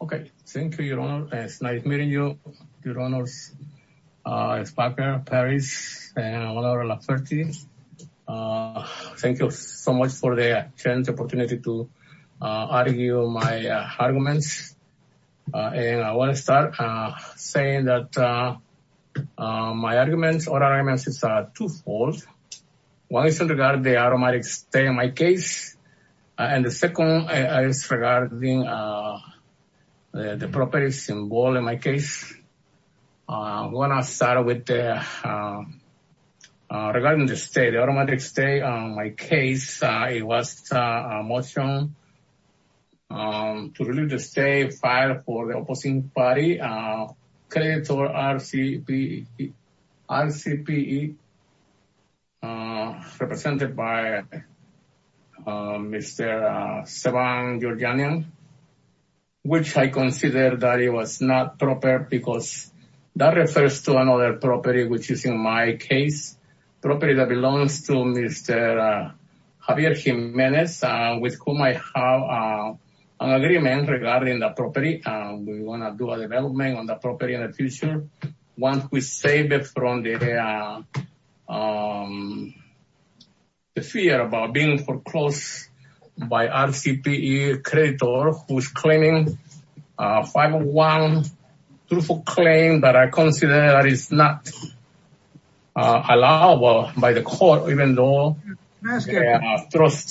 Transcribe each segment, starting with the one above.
Okay. Thank you, your honor. It's nice meeting you, your honors. Uh, it's Parker, Paris, uh, thank you so much for the chance, opportunity to, uh, argue my, uh, arguments. Uh, and I want to start, uh, saying that, uh, uh, my arguments or arguments is, uh, twofold. One is in regard to the automatic stay in my case. And the second is regarding, uh, the properties involved in my case. Uh, when I started with, uh, uh, regarding the state, the automatic stay on my case, uh, it was, uh, a motion, um, to release the state file for the opposing party, uh, credit or RCPE, RCPE, uh, represented by, uh, Mr. uh, which I consider that it was not proper because that refers to another property, which is in my case property that belongs to Mr. Javier Jimenez, uh, with whom I have, uh, an agreement regarding the property, uh, we want to do a development on the property in the um, the fear about being foreclosed by RCPE creditor, who's claiming a 501 truthful claim that I consider that is not, uh, allowable by the court, even though, excuse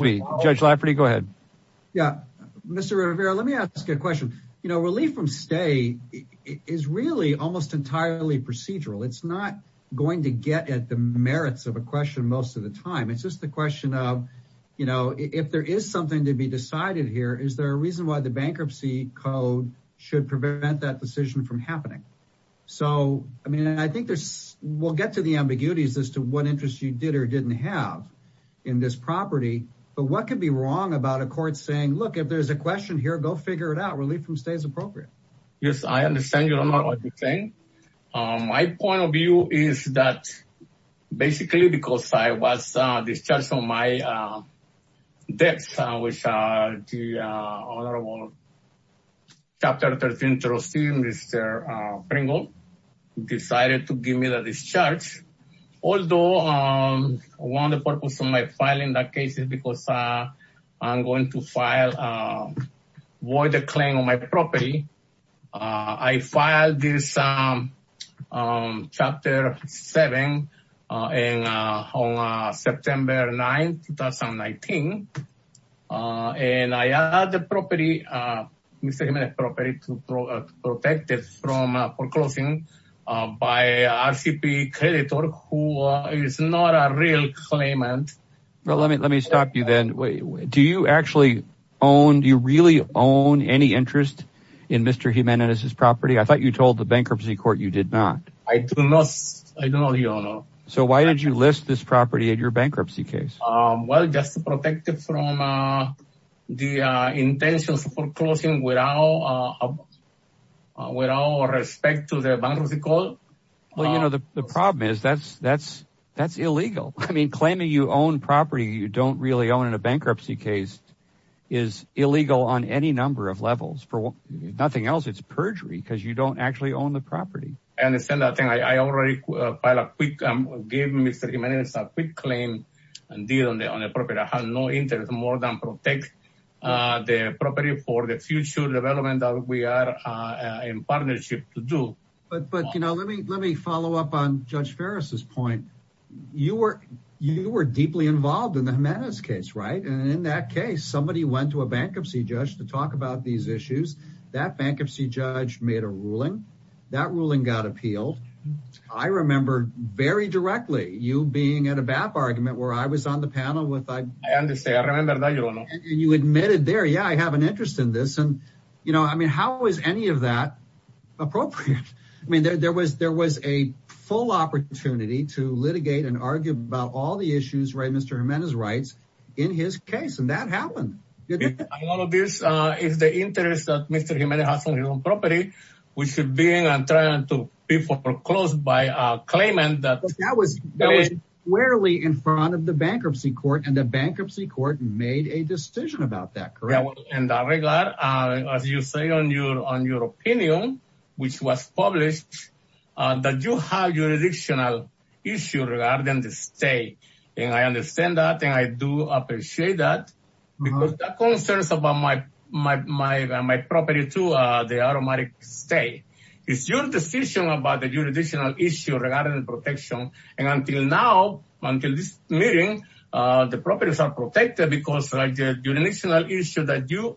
me, judge Lafferty. Go ahead. Yeah, Mr. Rivera, let me ask you a question. You know, relief from stay is really almost entirely procedural. It's not going to get at the merits of a question most of the time. It's just the question of, you know, if there is something to be decided here, is there a reason why the bankruptcy code should prevent that decision from happening? So, I mean, I think there's, we'll get to the ambiguities as to what interests you did or didn't have in this property, but what could be wrong about a court saying, look, if there's a question here, go figure it out. Relief from stay is appropriate. Yes. I understand. You don't know what you're saying. Um, my point of view is that basically because I was, uh, discharged from my, uh, debts, uh, which, uh, the, uh, honorable chapter 13 trustee, Mr. Uh, Pringle decided to give me the discharge. Although, um, one of the purpose of my filing that case is because, uh, I'm going to file, uh, void the claim on my property. Uh, I filed this, um, um, chapter seven, uh, and, uh, on, uh, September 9th, 2019, uh, and I, uh, the property, uh, Mr. Jimenez property to protect it from, uh, foreclosing, uh, by, uh, RCP creditor, who is not a real claimant. Well, let me, let me stop you then. Do you actually own, do you really own any interest in Mr. Jimenez's property? I thought you told the bankruptcy court you did not. I do not. I don't know the owner. So why did you list this property at your bankruptcy case? Um, well, just to protect it from, uh, the, uh, intentions foreclosing without, uh, uh, without respect to the bankruptcy court. Well, you know, the, the problem is that's, that's, that's illegal. I mean, claiming you own property you don't really own in a bankruptcy case is illegal on any number of levels for nothing else. It's perjury because you don't actually own the property. I understand that thing. I already filed a quick, um, gave Mr. Jimenez a quick claim and deal on the, on the property. I have no interest more than protect, uh, the property for the future development that we are, uh, in partnership to do. But, but, you know, let me, let me follow up on judge Ferris's point. You were, you were deeply involved in the Jimenez case, right? And in that case, somebody went to a bankruptcy judge to talk about these issues. That bankruptcy judge made a ruling. That ruling got appealed. I remember very directly you being at a BAP argument where I was on the panel with I, and you admitted there, yeah, I have an interest in this. And, you know, I mean, how was any of that appropriate? I mean, there, there was, there was a full opportunity to litigate and argue about all the issues, right? Mr. Jimenez's rights in his case. And that happened. A lot of this, uh, is the interest that Mr. Jimenez has on his own property, which should be in, I'm trying to be foreclosed by a claimant that. That was rarely in front of the bankruptcy court and the bankruptcy court made a decision about that. Correct. In that regard, uh, as you say on your, on your opinion, which was published, uh, that you have your additional issue regarding the state. And I understand that. And I do appreciate that because that concerns about my, my, my, my property to, uh, the automatic stay. It's your decision about the jurisdictional issue regarding protection. And until now, until this meeting, uh, the properties are protected because of the jurisdictional issue that you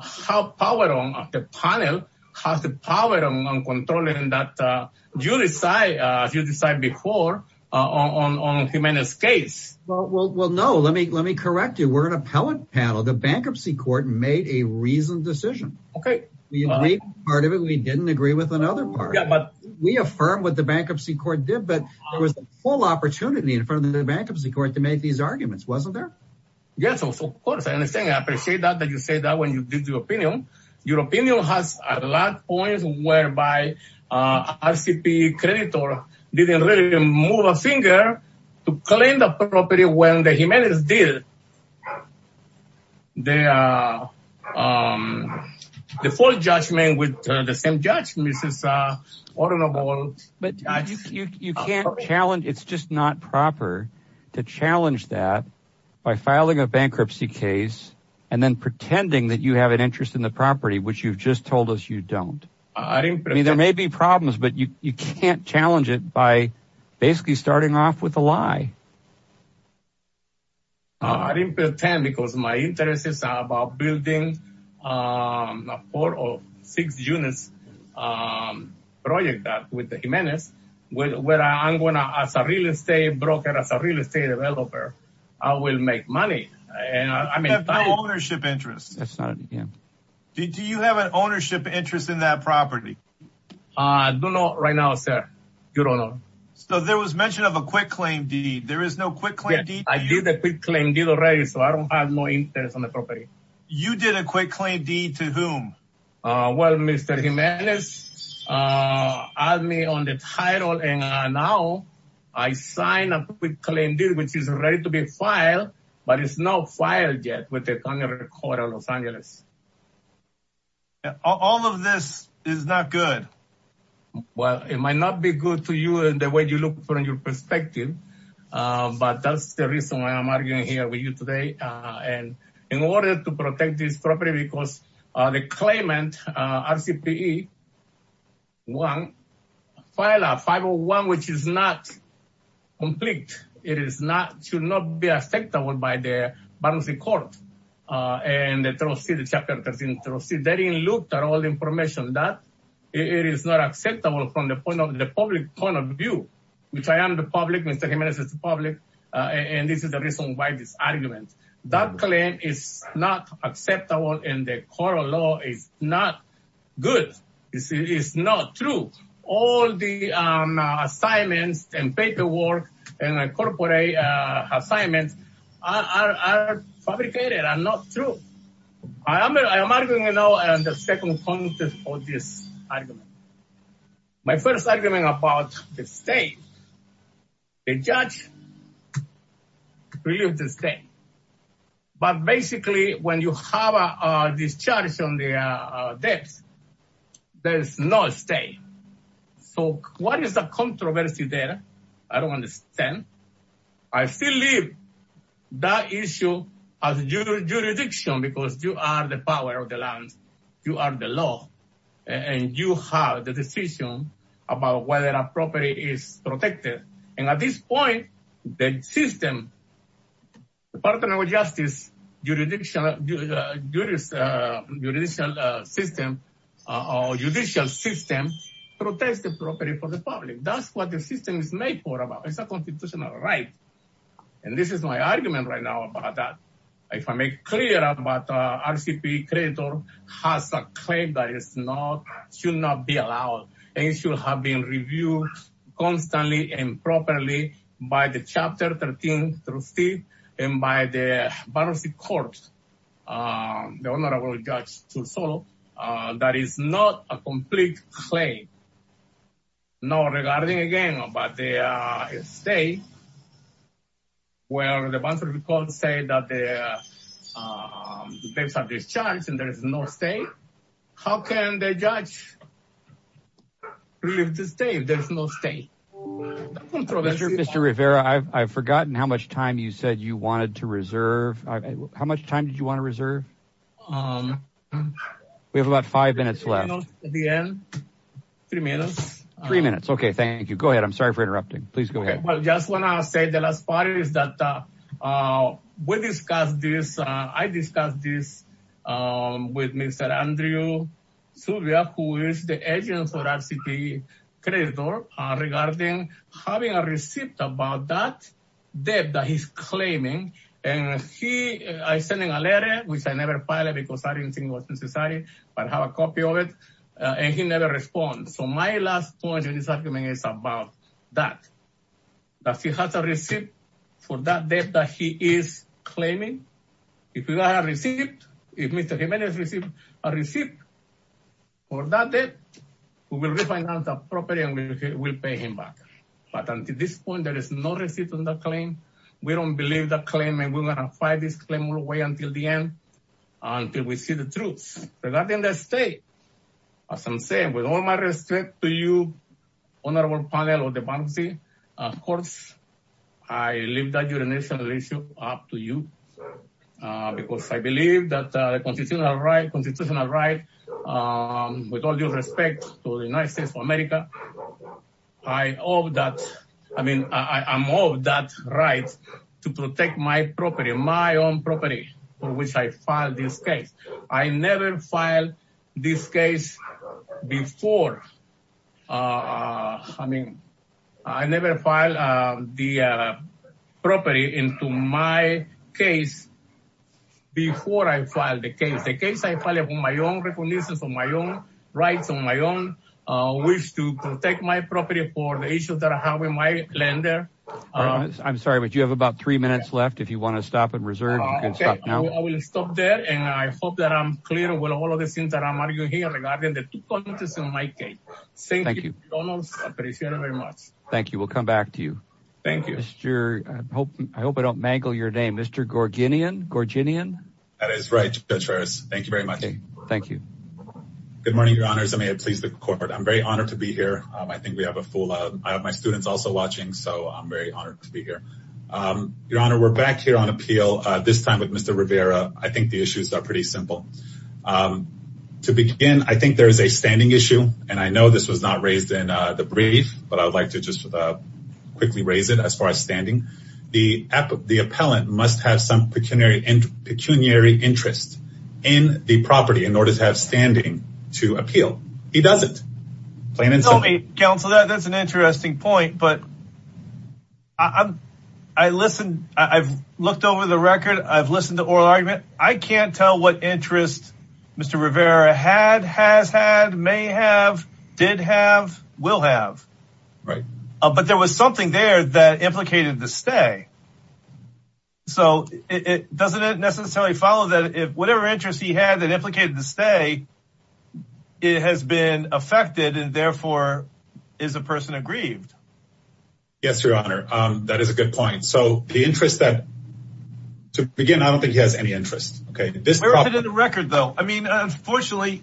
have power on the panel, have the power on controlling that, uh, you decide, uh, you decide before, uh, on, on, on Jimenez's case. Well, well, well, no, let me, let me correct you. We're an appellate panel. The bankruptcy court made a reasoned decision. Okay. We agreed with part of it. We didn't agree with another part, but we affirm what the bankruptcy court did, but there was a full opportunity in front of the bankruptcy court to make these arguments. Wasn't there? Yes, of course. I understand. I appreciate that. That you say that when you did your opinion, your opinion has a lot points whereby, uh, RCP creditor didn't really move a finger to claim the property when the Jimenez did. They, uh, um, the full judgment with the same judge, Mrs. Uh, honorable, but you can't challenge. It's just not proper to challenge that by filing a bankruptcy case and then pretending that you have an interest in the property, which you've just told us you don't. I mean, there may be problems, but you, you can't challenge it by basically starting off with a lie. I didn't pretend because my interest is about building, um, a four or six units, um, project that with the Jimenez, where I'm going to, as a real estate broker, as a real estate developer, I will make money and I mean, ownership interest. Did you have an ownership interest in that property? I don't know right now, sir. You don't know. So there was mention of a quick claim deed. There is no quick claim deed. I did the quick claim deed already. So I don't have more interest on the property. You did a quick claim deed to whom? Uh, well, Mr. Jimenez, uh, add me on the title. And now I signed a quick claim deed, which is ready to be filed, but it's not filed yet with the County Court of Los Angeles. All of this is not good. Well, it might not be good to you in the way you look from your perspective. Um, but that's the reason why I'm arguing here with you today. Uh, and in order to protect this property, because, uh, the claimant, uh, RCPE, one, file a 501, which is not complete. It is not, should not be acceptable by the bankruptcy court. Uh, and the trustee, the chapter 13 trustee, they didn't look at all the information that it is not acceptable from the point of the public point of view, which I am the public, Mr. Jimenez is the public. Uh, and this is the reason why this argument. That claim is not acceptable in the court of law is not good. This is not true. All the, um, assignments and paperwork and incorporate, uh, assignments are fabricated and not true. I am, I am arguing, you know, and the second point of this argument, my but basically when you have a discharge on the debts, there's no stay. So what is the controversy there? I don't understand. I still leave that issue as jurisdiction, because you are the power of the land. You are the law and you have the decision about whether a property is protected. And at this point, the system, the Department of Justice, judicial, judicial system, uh, judicial system, protects the property for the public. That's what the system is made for about. It's a constitutional right. And this is my argument right now about that. If I make clear about, uh, RCP creditor has a claim that is not, should not be improperly by the chapter 13, through Steve and by the barrister court, um, the honorable judge to solve, uh, that is not a complete claim. No, regarding again about the, uh, stay. Well, the bonds would be called to say that the, uh, um, there's a discharge and there is no state. How can the judge leave the state? There's no state. Mr. Rivera. I've forgotten how much time you said you wanted to reserve. How much time did you want to reserve? Um, we have about five minutes left. Three minutes. Three minutes. Okay. Thank you. Go ahead. I'm sorry for interrupting. Please go ahead. Well, just when I say the last part is that, uh, uh, we discussed this, uh, I discussed this, um, with Mr. Andrew who is the agent for our city credit door, uh, regarding having a receipt about that debt that he's claiming. And he, I sent him a letter, which I never filed it because I didn't think it was necessary, but I have a copy of it. Uh, and he never responds. So my last point in this argument is about that, that he has a receipt for that debt that he is claiming. If you got a receipt, if Mr. Jimenez received a receipt for that debt, we will refinance that property and we will pay him back. But until this point, there is no receipt on that claim. We don't believe that claim. And we're going to fight this claim all the way until the end, until we see the truth regarding the state, as I'm saying with all my respect to you, honorable panel of the bankruptcy, of course, I leave that urination issue up to you. Uh, because I believe that, uh, the constitutional right, constitutional right, um, with all due respect to the United States of America, I owe that. I mean, I'm owed that right to protect my property, my own property, for which I filed this case. I never filed this case before. Uh, I mean, I never filed, uh, the, uh, property into my case before I filed the case, the case I filed on my own recognitions on my own rights on my own, uh, which to protect my property for the issues that I have in my land there. I'm sorry, but you have about three minutes left. If you want to stop and reserve. I will stop there. And I hope that I'm clear with all of the things that I'm arguing here regarding the two points in my case. Thank you. Thank you. We'll come back to you. Thank you. I hope I don't mangle your name. Mr. Gorginian. Gorginian. That is right, Judge Ferris. Thank you very much. Thank you. Good morning, your honors. I may have pleased the court. I'm very honored to be here. Um, I think we have a full, uh, I have my students also watching. So I'm very honored to be here. Um, your honor, we're back here on appeal. Uh, this time with Mr. Rivera, I think the issues are pretty simple. Um, to begin, I think there is a standing issue and I know this was not raised in, uh, the brief, but I would like to just, uh, quickly raise it as far as standing. The app, the appellant must have some pecuniary interest in the property in order to have standing to appeal. He doesn't. Plain and simple. Let me counsel that. That's an interesting point, but I'm, I listened. I've looked over the record. I've listened to oral argument. I can't tell what interest Mr. Rivera had, has had, may have, did have, will have. Right. But there was something there that implicated the stay. So it doesn't necessarily follow that if whatever interest he had that implicated the stay, it has been affected and therefore is a person aggrieved. Yes, your honor. Um, that is a good point. So the interest that to begin, I don't think he has any interest. Okay. This record though, I mean, unfortunately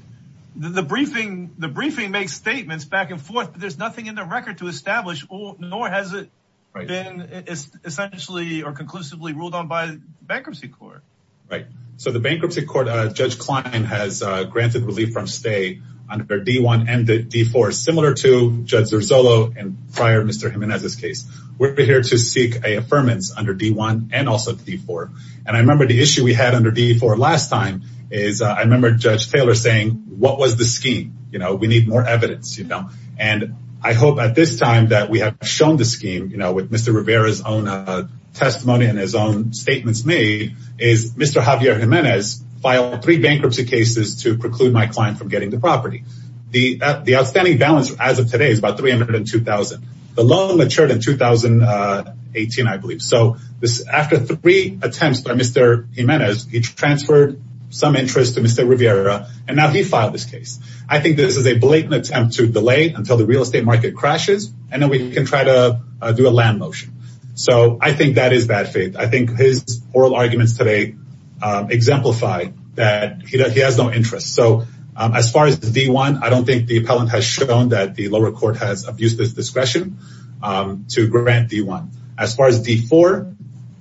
the briefing, the briefing makes statements back and forth, but there's nothing in the record to establish nor has it been essentially or conclusively ruled on by bankruptcy court. Right. So the bankruptcy court, uh, judge Klein has, uh, granted relief from stay under D1 and D4 similar to judge Zorzolo and prior Mr. Jimenez's case. We're here to seek a affirmance under D1 and also D4. And I remember the issue we had under D4 last time is, uh, I remember judge Taylor saying, what was the scheme? You know, we need more evidence, you know, and I hope at this time that we have shown the scheme, you know, with Mr. Rivera's own, uh, testimony and his own statements made is Mr. Javier Jimenez filed three bankruptcy cases to preclude my client from getting the property. The, uh, the outstanding balance as of today is about 302,000. The loan matured in 2018, I believe. So this, after three attempts by Mr. Jimenez, he transferred some interest to Mr. Rivera, and now he filed this case. I think this is a blatant attempt to delay until the real estate market crashes, and then we can try to do a land motion. So I think that is bad faith. I think his oral arguments today, um, exemplify that he has no interest. So, um, as far as D1, I don't think the appellant has shown that the lower court has abused this discretion, um, to grant D1, as far as D4.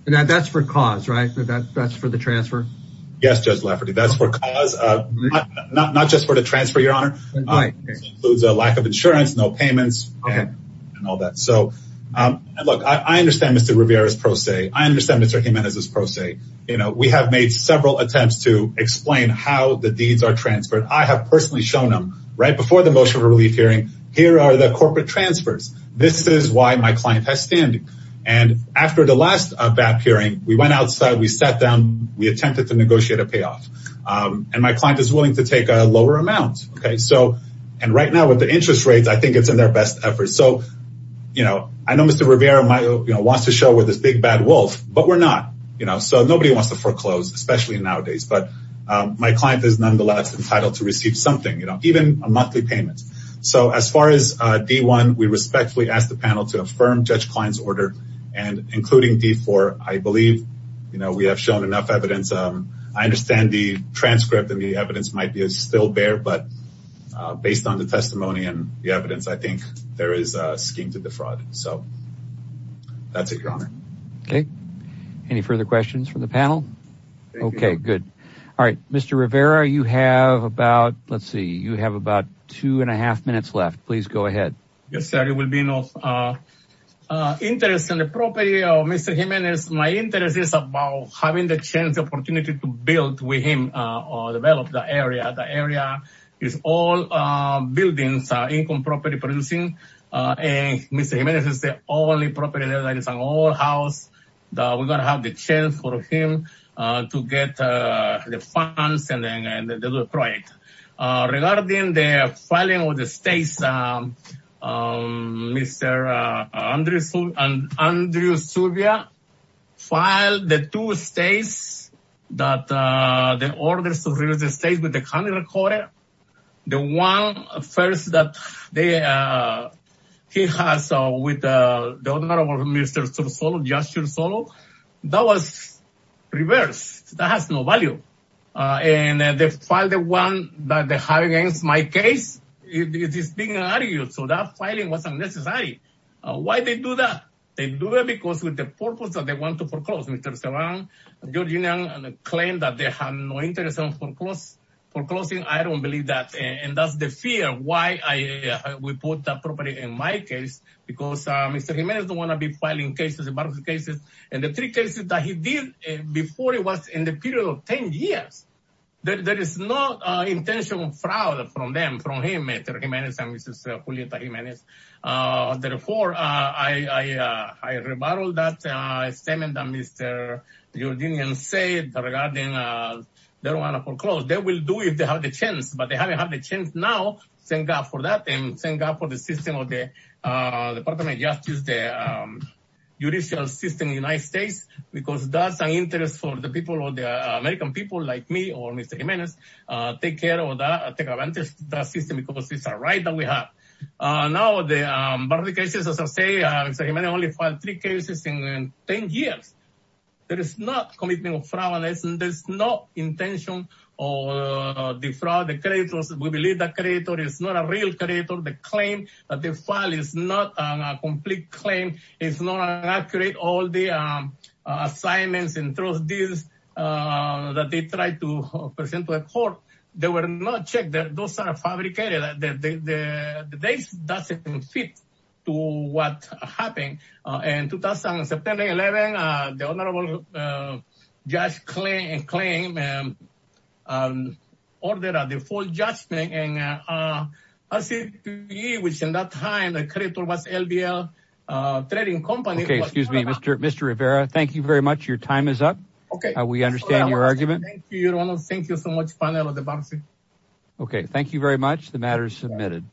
And that that's for cause, right? That that's for the transfer. Yes, Judge Lafferty, that's for cause, uh, not, not, not just for the transfer, your honor. Includes a lack of insurance, no payments and all that. So, um, and look, I understand Mr. Rivera's pro se, I understand Mr. Jimenez's pro se, you know, we have made several attempts to explain how the deeds are transferred. I have personally shown them right before the motion of a relief hearing. Here are the corporate transfers. This is why my client has standing. And after the last BAP hearing, we went outside, we sat down, we attempted to negotiate a payoff. Um, and my client is willing to take a lower amount. Okay. So, and right now with the interest rates, I think it's in their best effort. So, you know, I know Mr. Rivera, my, you know, wants to show with this big bad wolf, but we're not, you know, so nobody wants to foreclose, especially nowadays, but, um, my client is nonetheless entitled to receive something, you know, even a monthly payment. So as far as, uh, D1, we respectfully ask the panel to affirm judge Klein's order and including D4, I believe, you know, we have shown enough evidence. Um, I understand the transcript and the evidence might be a still bear, but, uh, based on the testimony and the evidence, I think there is a scheme to defraud. So that's it, your honor. Okay. Any further questions from the panel? Okay, good. All right. Mr. Rivera, you have about, let's see. You have about two and a half minutes left. Please go ahead. Yes, sir. It will be no, uh, uh, interest in the property of Mr. Jimenez. My interest is about having the chance opportunity to build with him, uh, or develop the area. The area is all, uh, buildings, uh, income property producing, uh, and Mr. Jimenez is the only property that is an old house that we're going to have the chance for him, uh, to get, uh, the funds and then, and then do a project, uh, regarding the filing of the states. Um, um, Mr. Uh, Andrew and Andrew Subia filed the two states that, uh, the orders of real estate with the county recorder. The one first that they, uh, he has, uh, with, uh, the owner of Mr. Solo, Joshua Solo, that was reverse that has no value. Uh, and then they filed the one that they have against my case. It is being argued. So that filing wasn't necessary. Uh, why they do that? They do it because with the purpose that they want to foreclose, Mr. Serrano, Georgina, and the claim that they have no interest in foreclosing. I don't believe that. And that's the fear. Why I would put that property in my case because, uh, Mr. Jimenez don't want to be filing cases about the cases and the three cases that he did before it was in the period of 10 years, that there is no intention of fraud from them, from him, Mr. Jimenez and Mrs. Julieta Jimenez. Uh, therefore, uh, I, uh, I rebuttal that, uh, statement that Mr. Georginian said regarding, uh, they don't want to foreclose. They will do it if they have the chance, but they haven't had the chance now. Thank God for that. And thank God for the system of the, uh, Department of Justice, the, um, judicial system in the United States, because that's an interest for the people of the American people like me or Mr. Jimenez, uh, take care of that, take advantage of that system because it's a right that we have. Uh, now the, um, but the cases, as I say, uh, Mr. Jimenez only filed three cases in 10 years. There is not commitment of fraud and there's no intention of the fraud. The creditors, we believe the creditor is not a real creditor. The claim that the file is not a complete claim is not accurate. All the, um, uh, assignments and trust deals, uh, that they tried to present to the court, they were not checked. Those are fabricated. The dates doesn't fit to what happened. Uh, in 2017, 11, uh, the honorable, uh, judge claim and claim, um, um, all that are the full judgment and, uh, uh, which in that time, the creditor was LBL, uh, trading company. Okay. Excuse me, Mr. Mr. Rivera. Thank you very much. Your time is up. Okay. We understand your argument. Thank you so much. Okay. Thank you very much. The matter is submitted.